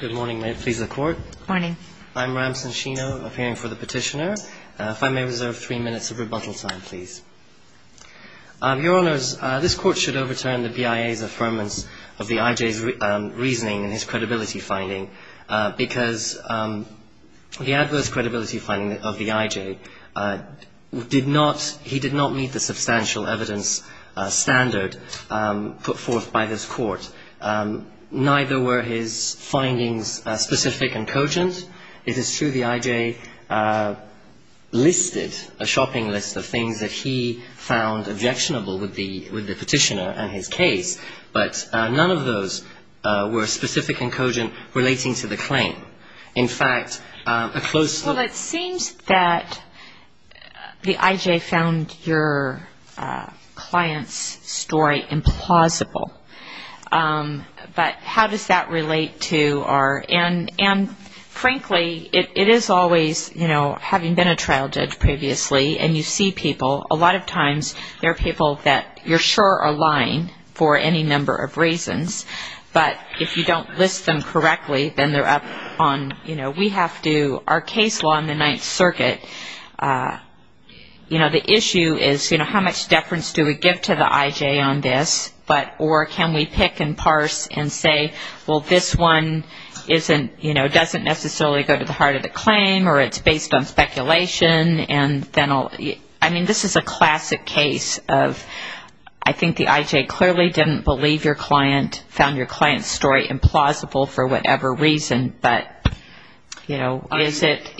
Good morning. May it please the Court. Good morning. I'm Ram Sanshino, appearing for the petitioner. If I may reserve three minutes of rebuttal time, please. Your Honours, this Court should overturn the BIA's affirmance of the IJ's reasoning and his credibility finding because the adverse credibility finding of the IJ did not meet the substantial evidence standard put forth by this Court. Neither were his findings specific and cogent. It is true the IJ listed a shopping list of things that he found objectionable with the petitioner and his case, but none of those were specific and cogent relating to the claim. Well, it seems that the IJ found your client's story implausible, but how does that relate to our end? And frankly, it is always, you know, having been a trial judge previously and you see people, a lot of times there are people that you're sure are lying for any number of reasons, but if you don't list them correctly, then they're up on, you know, we have to, our case law in the Ninth Circuit, you know, the issue is, you know, how much deference do we give to the IJ on this, or can we pick and parse and say, well, this one isn't, you know, doesn't necessarily go to the heart of the claim or it's based on speculation and then I'll, I mean, this is a classic case of, I think the IJ clearly didn't believe your client, found your client's story implausible for whatever reason, but, you know, is it,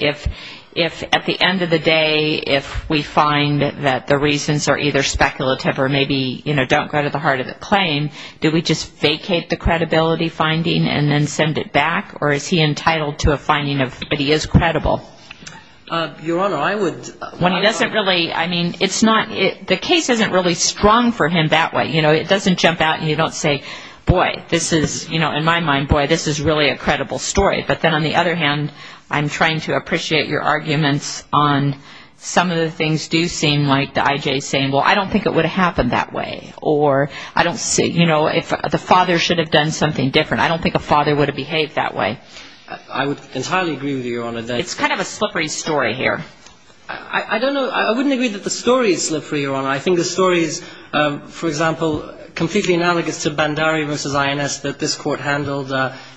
if at the end of the day, if we find that the reasons are either speculative or maybe, you know, don't go to the heart of the claim, do we just vacate the credibility finding and then send it back, or is he entitled to a finding of, but he is credible? Your Honor, I would. When he doesn't really, I mean, it's not, the case isn't really strong for him that way, you know, it doesn't jump out and you don't say, boy, this is, you know, in my mind, boy, this is really a credible story, but then on the other hand, I'm trying to appreciate your arguments on some of the things do seem like the IJ's saying, well, I don't think it would have happened that way, or I don't see, you know, if the father should have done something different, I don't think a father would have behaved that way. I would entirely agree with you, Your Honor. It's kind of a slippery story here. I don't know, I wouldn't agree that the story is slippery, Your Honor. I think the story is, for example, completely analogous to Bandari v. INS that this Court handled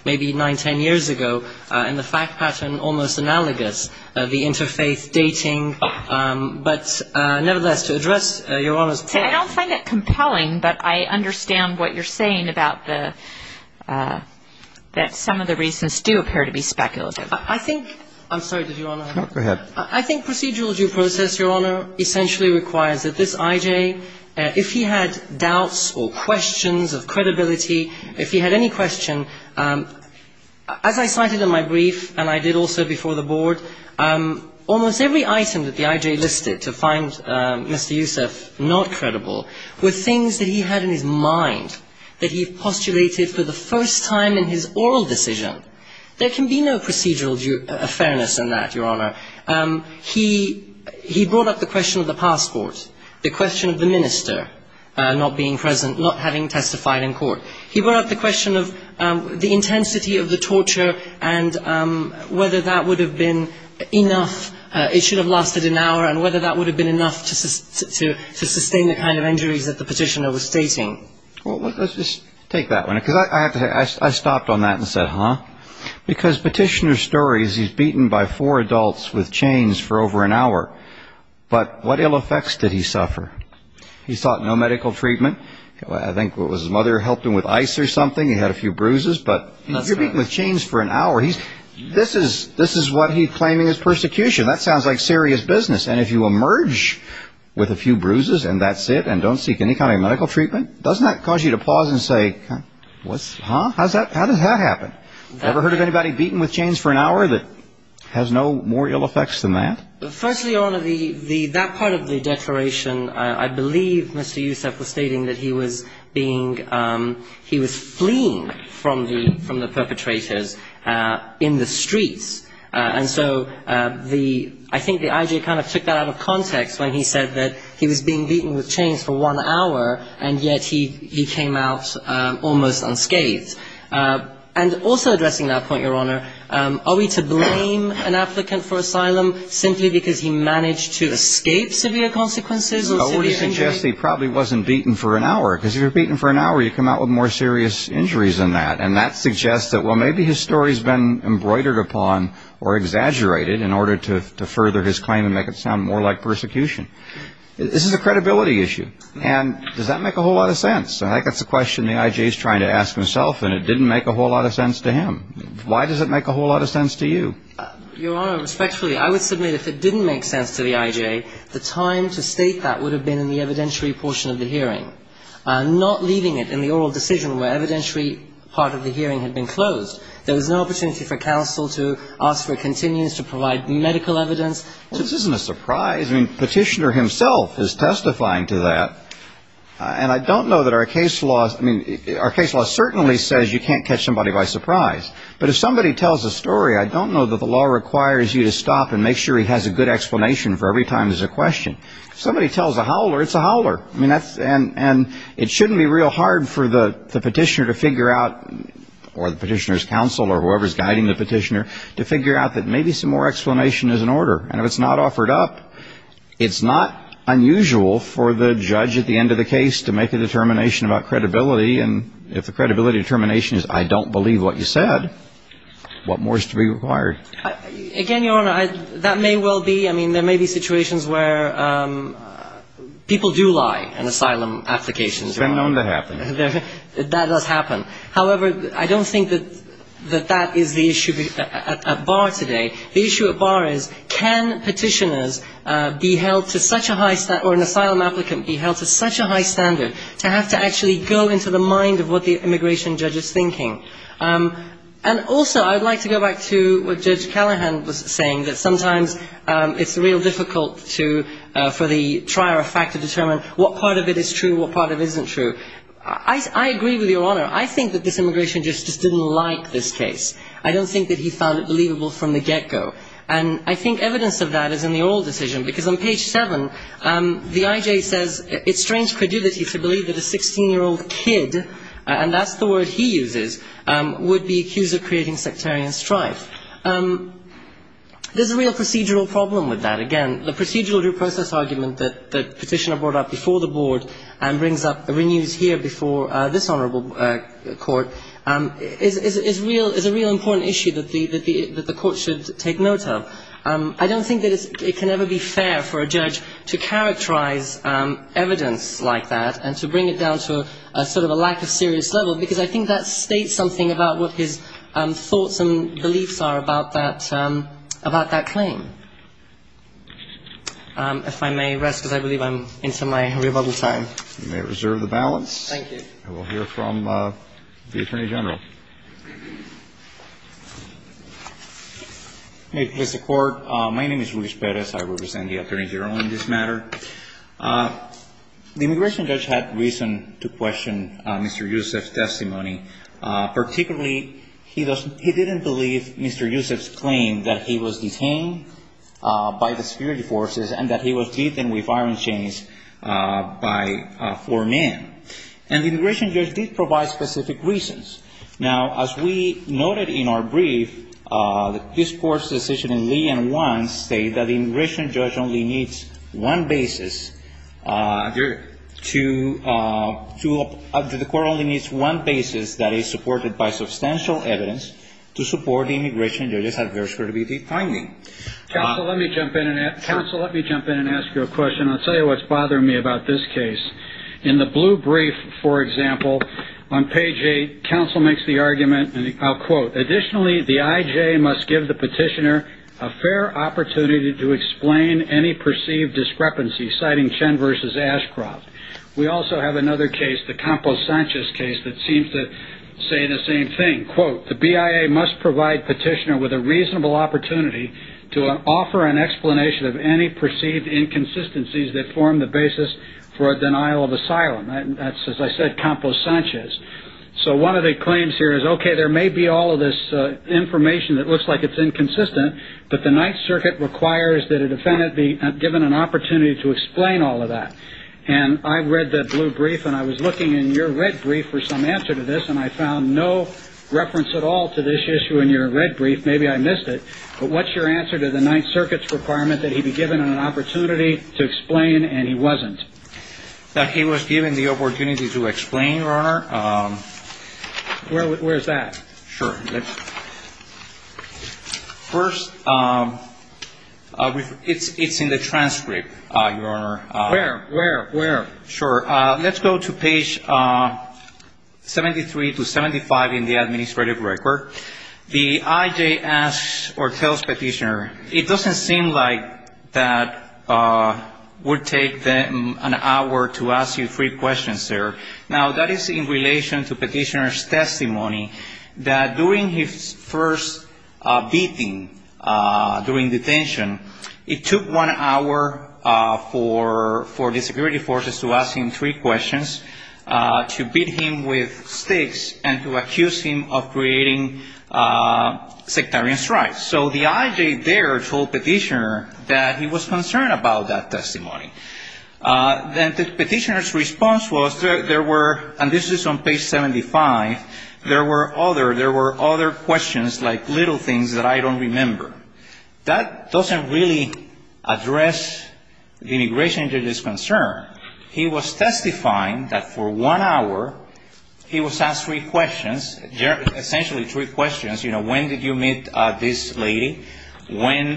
maybe 9, 10 years ago, and the fact pattern almost analogous, the interfaith dating, but nevertheless, to address Your Honor's point. See, I don't find it compelling, but I understand what you're saying about the, that some of the reasons do appear to be speculative. I think, I'm sorry, did Your Honor? Go ahead. I think procedural due process, Your Honor, essentially requires that this IJ, if he had doubts or questions of credibility, if he had any question, as I cited in my brief, and I did also before the Board, almost every item that the IJ listed to find Mr. Youssef not credible were things that he had in his mind, that he postulated for the first time in his oral decision. There can be no procedural fairness in that, Your Honor. He brought up the question of the passport, the question of the minister not being present, not having testified in court. He brought up the question of the intensity of the torture and whether that would have been enough, it should have lasted an hour, and whether that would have been enough to sustain the kind of injuries that the petitioner was stating. Well, let's just take that one, because I stopped on that and said, huh? Because petitioner's story is he's beaten by four adults with chains for over an hour. But what ill effects did he suffer? He sought no medical treatment. I think it was his mother helped him with ice or something. He had a few bruises. But if you're beaten with chains for an hour, this is what he's claiming is persecution. That sounds like serious business. And if you emerge with a few bruises and that's it and don't seek any kind of medical treatment, doesn't that cause you to pause and say, huh? How did that happen? Never heard of anybody beaten with chains for an hour that has no more ill effects than that? Firstly, Your Honor, that part of the declaration, I believe Mr. Youssef was stating that he was being he was fleeing from the perpetrators in the streets. And so the I think the IG kind of took that out of context when he said that he was being beaten with chains for one hour. And yet he came out almost unscathed. And also addressing that point, Your Honor, are we to blame an applicant for asylum simply because he managed to escape severe consequences? I would suggest he probably wasn't beaten for an hour because you're beaten for an hour. You come out with more serious injuries than that. And that suggests that, well, maybe his story has been embroidered upon or exaggerated in order to further his claim and make it sound more like persecution. This is a credibility issue. And does that make a whole lot of sense? I think that's a question the IG is trying to ask himself. And it didn't make a whole lot of sense to him. Why does it make a whole lot of sense to you? Your Honor, respectfully, I would submit if it didn't make sense to the IG, the time to state that would have been in the evidentiary portion of the hearing. Not leaving it in the oral decision where evidentiary part of the hearing had been closed. There was no opportunity for counsel to ask for continuance to provide medical evidence. Well, this isn't a surprise. I mean, Petitioner himself is testifying to that. And I don't know that our case law, I mean, our case law certainly says you can't catch somebody by surprise. But if somebody tells a story, I don't know that the law requires you to stop and make sure he has a good explanation for every time there's a question. If somebody tells a howler, it's a howler. And it shouldn't be real hard for the Petitioner to figure out, or the Petitioner's counsel or whoever is guiding the Petitioner, to figure out that maybe some more explanation is in order. And if it's not offered up, it's not unusual for the judge at the end of the case to make a determination about credibility. And if the credibility determination is I don't believe what you said, what more is to be required? Again, Your Honor, that may well be. I mean, there may be situations where people do lie in asylum applications. It's been known to happen. That does happen. However, I don't think that that is the issue at bar today. The issue at bar is can Petitioners be held to such a high or an asylum applicant be held to such a high standard to have to actually go into the mind of what the immigration judge is thinking? And also, I would like to go back to what Judge Callahan was saying, that sometimes it's real difficult for the trier of fact to determine what part of it is true, what part of it isn't true. I agree with Your Honor. I think that this immigration judge just didn't like this case. I don't think that he found it believable from the get-go. And I think evidence of that is in the oral decision, because on page 7, the I.J. says, it strains credulity to believe that a 16-year-old kid, and that's the word he uses, would be accused of creating sectarian strife. There's a real procedural problem with that. Again, the procedural due process argument that Petitioner brought up before the Board and brings up, renews here before this Honorable Court, is a real important issue that the Court should take note of. I don't think that it can ever be fair for a judge to characterize evidence like that and to bring it down to sort of a lack of serious level, because I think that states something about what his thoughts and beliefs are about that claim. If I may rest, because I believe I'm into my rebuttal time. You may reserve the balance. Thank you. And we'll hear from the Attorney General. Thank you. May it please the Court. My name is Luis Perez. I represent the Attorney General on this matter. The immigration judge had reason to question Mr. Yousef's testimony. Particularly, he didn't believe Mr. Yousef's claim that he was detained by the security forces and that he was detained with iron chains by four men. And the immigration judge did provide specific reasons. Now, as we noted in our brief, this Court's decision in Lee v. Wann states that the immigration judge only needs one basis. Your Honor. The Court only needs one basis, that is, supported by substantial evidence, to support the immigration judge's adverse credibility finding. Counsel, let me jump in and ask you a question. I'll tell you what's bothering me about this case. In the blue brief, for example, on page 8, counsel makes the argument, and I'll quote, additionally, the IJA must give the petitioner a fair opportunity to explain any perceived discrepancy, citing Chen v. Ashcroft. We also have another case, the Campos Sanchez case, that seems to say the same thing. Quote, the BIA must provide petitioner with a reasonable opportunity to offer an explanation of any perceived inconsistencies that form the basis for a denial of asylum. That's, as I said, Campos Sanchez. So one of the claims here is, okay, there may be all of this information that looks like it's inconsistent, but the Ninth Circuit requires that a defendant be given an opportunity to explain all of that. And I read that blue brief, and I was looking in your red brief for some answer to this, and I found no reference at all to this issue in your red brief. Maybe I missed it. But what's your answer to the Ninth Circuit's requirement that he be given an opportunity to explain, and he wasn't? That he was given the opportunity to explain, Your Honor. Where is that? Sure. First, it's in the transcript, Your Honor. Where, where, where? Sure. Let's go to page 73 to 75 in the administrative record. The I.J. asks or tells Petitioner, it doesn't seem like that would take them an hour to ask you three questions, sir. Now, that is in relation to Petitioner's testimony that during his first beating during detention, it took one hour for the security forces to ask him three questions, to beat him with sticks, and to accuse him of creating sectarian strikes. So the I.J. there told Petitioner that he was concerned about that testimony. Then Petitioner's response was there were, and this is on page 75, there were other, there were other questions like little things that I don't remember. That doesn't really address the immigration judge's concern. He was testifying that for one hour he was asked three questions, essentially three questions, you know, when did you meet this lady? When,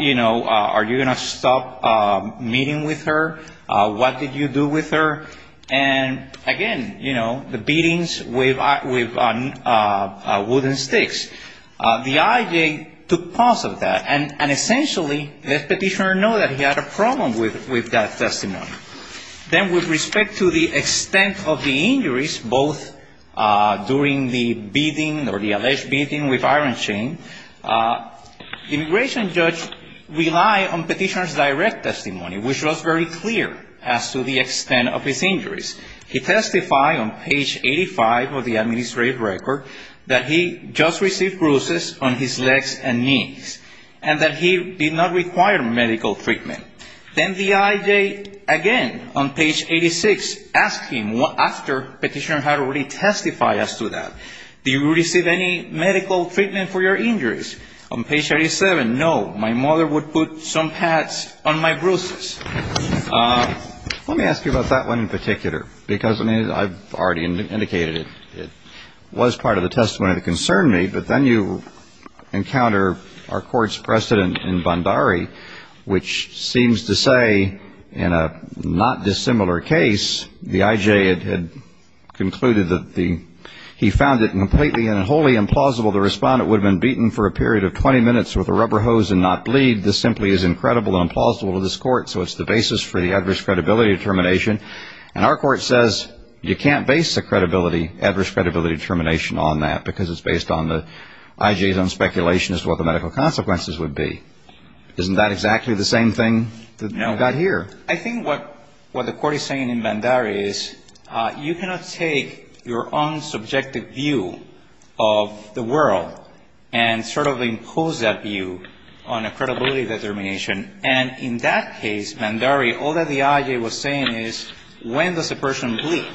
you know, are you going to stop meeting with her? What did you do with her? And, again, you know, the beatings with wooden sticks. The I.J. took pause of that, and essentially let Petitioner know that he had a problem with that testimony. Then with respect to the extent of the injuries, both during the beating or the alleged beating with iron chain, the immigration judge relied on Petitioner's direct testimony, which was very clear as to the extent of his injuries. He testified on page 85 of the administrative record that he just received bruises on his legs and knees and that he did not require medical treatment. Then the I.J., again on page 86, asked him after Petitioner had already testified as to that, do you receive any medical treatment for your injuries? On page 87, no, my mother would put some pads on my bruises. Let me ask you about that one in particular because, I mean, I've already indicated it. It was part of the testimony that concerned me, but then you encounter our Court's precedent in Bondari, which seems to say in a not dissimilar case, the I.J. had concluded that he found it completely and wholly implausible the respondent would have been beaten for a period of 20 minutes with a rubber hose and not bleed. This simply is incredible and implausible to this Court, so it's the basis for the adverse credibility determination. And our Court says you can't base the credibility, adverse credibility determination on that because it's based on the I.J.'s own speculation as to what the medical consequences would be. Isn't that exactly the same thing that we've got here? I think what the Court is saying in Bondari is you cannot take your own subjective view of the world and sort of impose that view on a credibility determination. And in that case, Bondari, all that the I.J. was saying is when does a person bleed?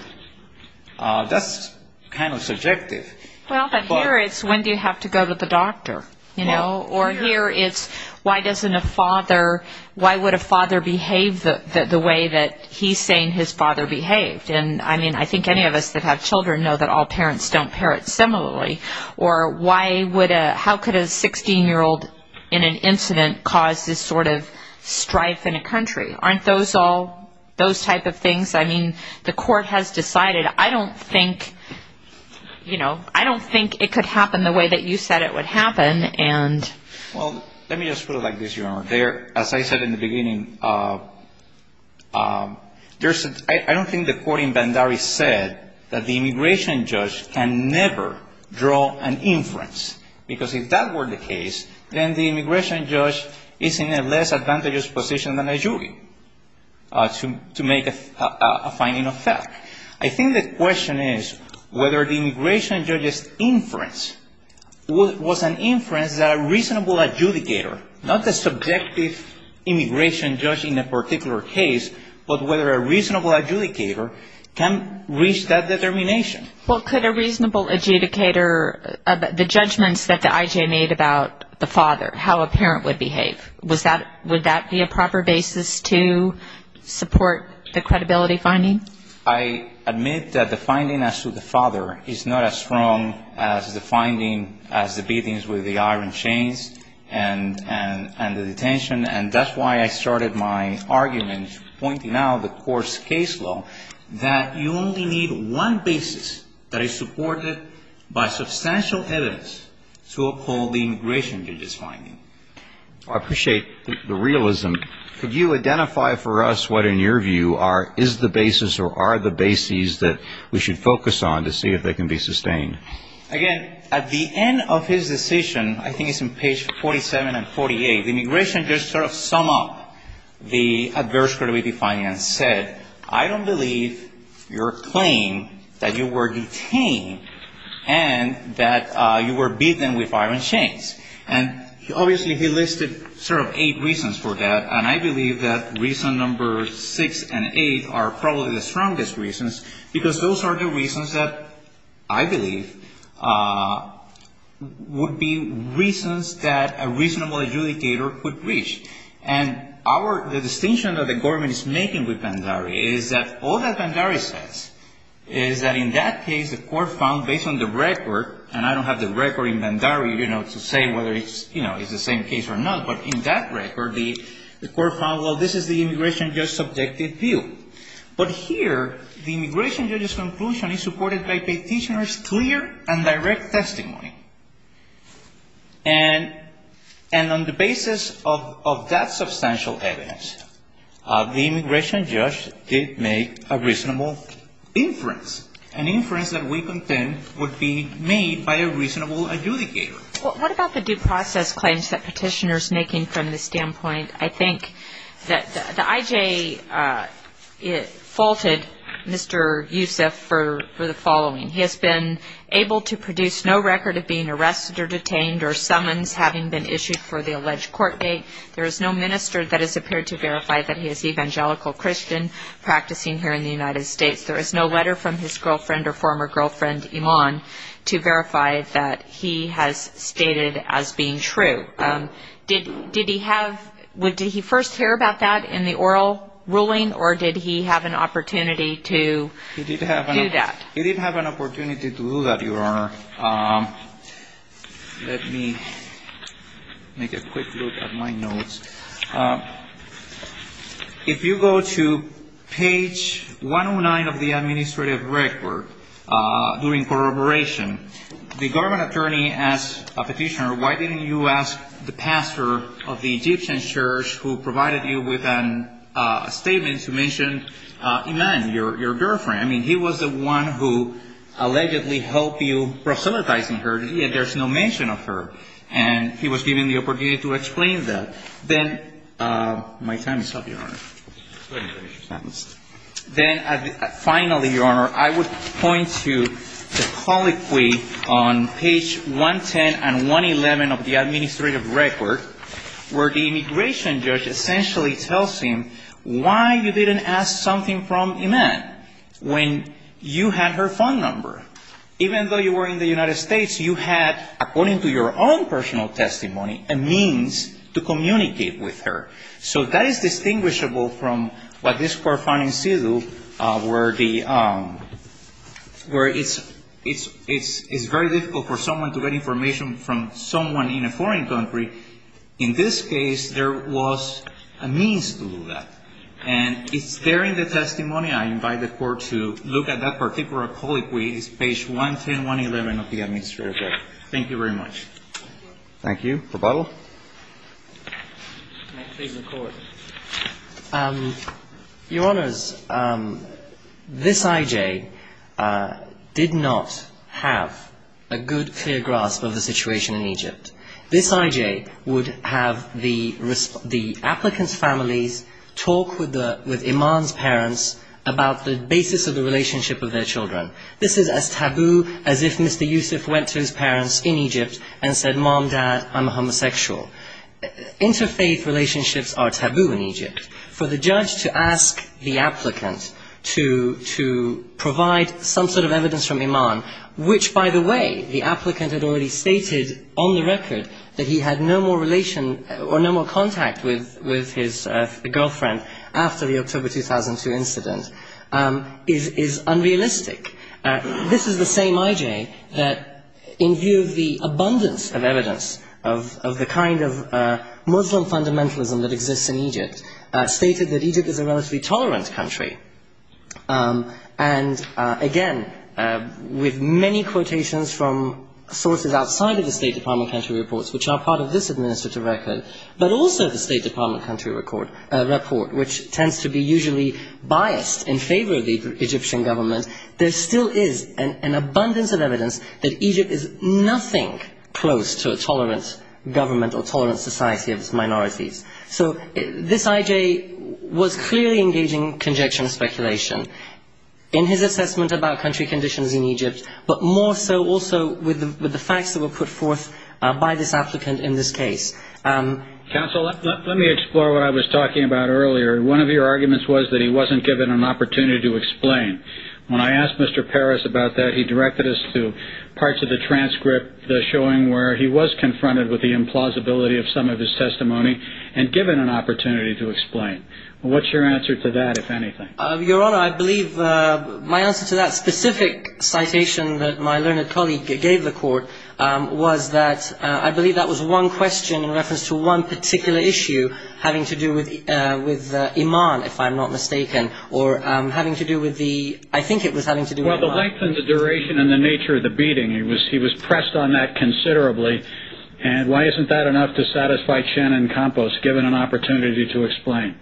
That's kind of subjective. Well, but here it's when do you have to go to the doctor, you know? Or here it's why doesn't a father, why would a father behave the way that he's saying his father behaved? And, I mean, I think any of us that have children know that all parents don't parent similarly. Or how could a 16-year-old in an incident cause this sort of strife in a country? Aren't those all those type of things? I mean, the Court has decided. I don't think it could happen the way that you said it would happen. Well, let me just put it like this, Your Honor. As I said in the beginning, I don't think the Court in Bondari said that the immigration judge can never draw an inference because if that were the case, then the immigration judge is in a less advantageous position than a jury to make a finding of fact. I think the question is whether the immigration judge's inference was an inference that a reasonable adjudicator, not the subjective immigration judge in a particular case, but whether a reasonable adjudicator can reach that determination. Well, could a reasonable adjudicator, the judgments that the IJ made about the father, how a parent would behave, would that be a proper basis to support the credibility finding? I admit that the finding as to the father is not as strong as the finding as the beatings with the iron chains and the detention. And that's why I started my argument pointing out the Court's case law, that you only need one basis that is supported by substantial evidence to uphold the immigration judge's finding. I appreciate the realism. Could you identify for us what, in your view, is the basis or are the bases that we should focus on to see if they can be sustained? Again, at the end of his decision, I think it's on page 47 and 48, the immigration judge sort of summed up the adverse credibility finding and said, I don't believe your claim that you were detained and that you were beaten with iron chains. And obviously he listed sort of eight reasons for that, and I believe that reason number six and eight are probably the strongest reasons because those are the reasons that I believe would be reasons that a reasonable adjudicator could reach. And the distinction that the government is making with Bhandari is that all that Bhandari says is that in that case, the Court found based on the record, and I don't have the record in Bhandari to say whether it's the same case or not, but in that record, the Court found, well, this is the immigration judge's subjective view. But here, the immigration judge's conclusion is supported by Petitioner's clear and direct testimony. And on the basis of that substantial evidence, the immigration judge did make a reasonable inference, an inference that we contend would be made by a reasonable adjudicator. Well, what about the due process claims that Petitioner's making from this standpoint? I think that the IJ faulted Mr. Yusuf for the following. He has been able to produce no record of being arrested or detained or summons having been issued for the alleged court date. There is no minister that has appeared to verify that he is an evangelical Christian practicing here in the United States. There is no letter from his girlfriend or former girlfriend, Iman, to verify that he has stated as being true. Did he have – did he first hear about that in the oral ruling, or did he have an opportunity to do that? He did have an opportunity to do that, Your Honor. Let me make a quick look at my notes. If you go to page 109 of the administrative record, during corroboration, the government attorney asked Petitioner, why didn't you ask the pastor of the Egyptian church who provided you with a statement to mention Iman, your girlfriend? I mean, he was the one who allegedly helped you proselytizing her, yet there's no mention of her. And he was given the opportunity to explain that. Then – my time is up, Your Honor. Go ahead and finish your sentence. Then, finally, Your Honor, I would point to the colloquy on page 110 and 111 of the administrative record, where the immigration judge essentially tells him why you didn't ask something from Iman when you had her phone number. Even though you were in the United States, you had, according to your own personal testimony, a means to communicate with her. So that is distinguishable from what this Court found in Sidhu, where it's very difficult for someone to get information from someone in a foreign country. In this case, there was a means to do that. And it's there in the testimony. I invite the Court to look at that particular colloquy. It's page 110, 111 of the administrative record. Thank you very much. Thank you. Rebuttal. May it please the Court. Your Honors, this I.J. did not have a good, clear grasp of the situation in Egypt. This I.J. would have the applicants' families talk with Iman's parents about the basis of the relationship of their children. This is as taboo as if Mr. Yusuf went to his parents in Egypt and said, Mom, Dad, I'm a homosexual. Interfaith relationships are taboo in Egypt. For the judge to ask the applicant to provide some sort of evidence from Iman, which, by the way, the applicant had already stated on the record that he had no more relation or no more contact with his girlfriend after the October 2002 incident, is unrealistic. This is the same I.J. that, in view of the abundance of evidence of the kind of Muslim fundamentalism that exists in Egypt, stated that Egypt is a relatively tolerant country. And, again, with many quotations from sources outside of the State Department country reports, which are part of this administrative record, but also the State Department country report, which tends to be usually biased in favor of the Egyptian government, there still is an abundance of evidence that Egypt is nothing close to a tolerant government or tolerant society of its minorities. So this I.J. was clearly engaging in conjecture and speculation in his assessment about country conditions in Egypt, but more so also with the facts that were put forth by this applicant in this case. Counsel, let me explore what I was talking about earlier. One of your arguments was that he wasn't given an opportunity to explain. When I asked Mr. Parris about that, he directed us to parts of the transcript, the showing where he was confronted with the implausibility of some of his testimony and given an opportunity to explain. What's your answer to that, if anything? Your Honor, I believe my answer to that specific citation that my learned colleague gave the court was that I believe that was one question in reference to one particular issue having to do with Iman, if I'm not mistaken, or having to do with the ‑‑ I think it was having to do with Iman. Well, the length and the duration and the nature of the beating, he was pressed on that considerably. And why isn't that enough to satisfy Shannon Campos, given an opportunity to explain?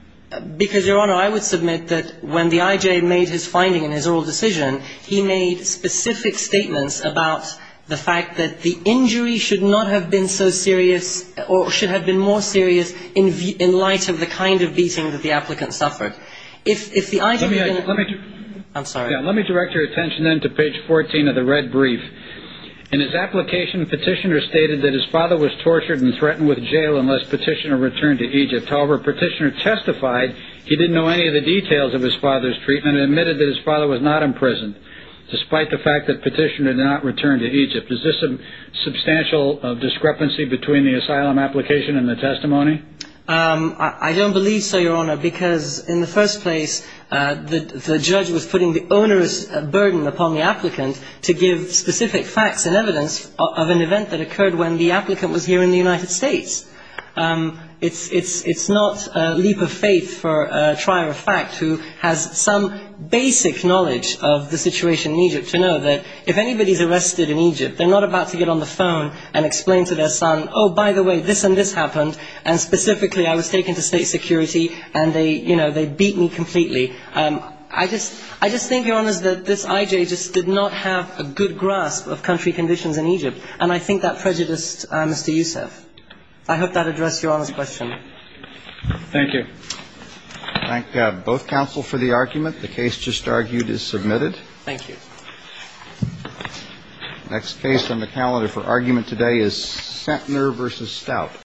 Because, Your Honor, I would submit that when the I.J. made his finding in his oral decision, he made specific statements about the fact that the injury should not have been so serious or should have been more serious in light of the kind of beating that the applicant suffered. If the I.J. ‑‑ Let me direct your attention then to page 14 of the red brief. In his application, Petitioner stated that his father was tortured and threatened with jail unless Petitioner returned to Egypt. However, Petitioner testified he didn't know any of the details of his father's treatment and admitted that his father was not imprisoned, despite the fact that Petitioner did not return to Egypt. Is this a substantial discrepancy between the asylum application and the testimony? I don't believe so, Your Honor, because in the first place, the judge was putting the onerous burden upon the applicant to give specific facts and evidence of an event that occurred when the applicant was here in the United States. It's not a leap of faith for a trier of fact who has some basic knowledge of the situation in Egypt to know that if anybody's arrested in Egypt, they're not about to get on the phone and explain to their son, oh, by the way, this and this happened, and specifically I was taken to state security and they, you know, they beat me completely. I just think, Your Honor, that this I.J. just did not have a good grasp of country conditions in Egypt, and I think that prejudiced Mr. Yousef. I hope that addressed Your Honor's question. Thank you. I thank both counsel for the argument. The case just argued is submitted. Thank you. The next case on the calendar for argument today is Centner v. Stout.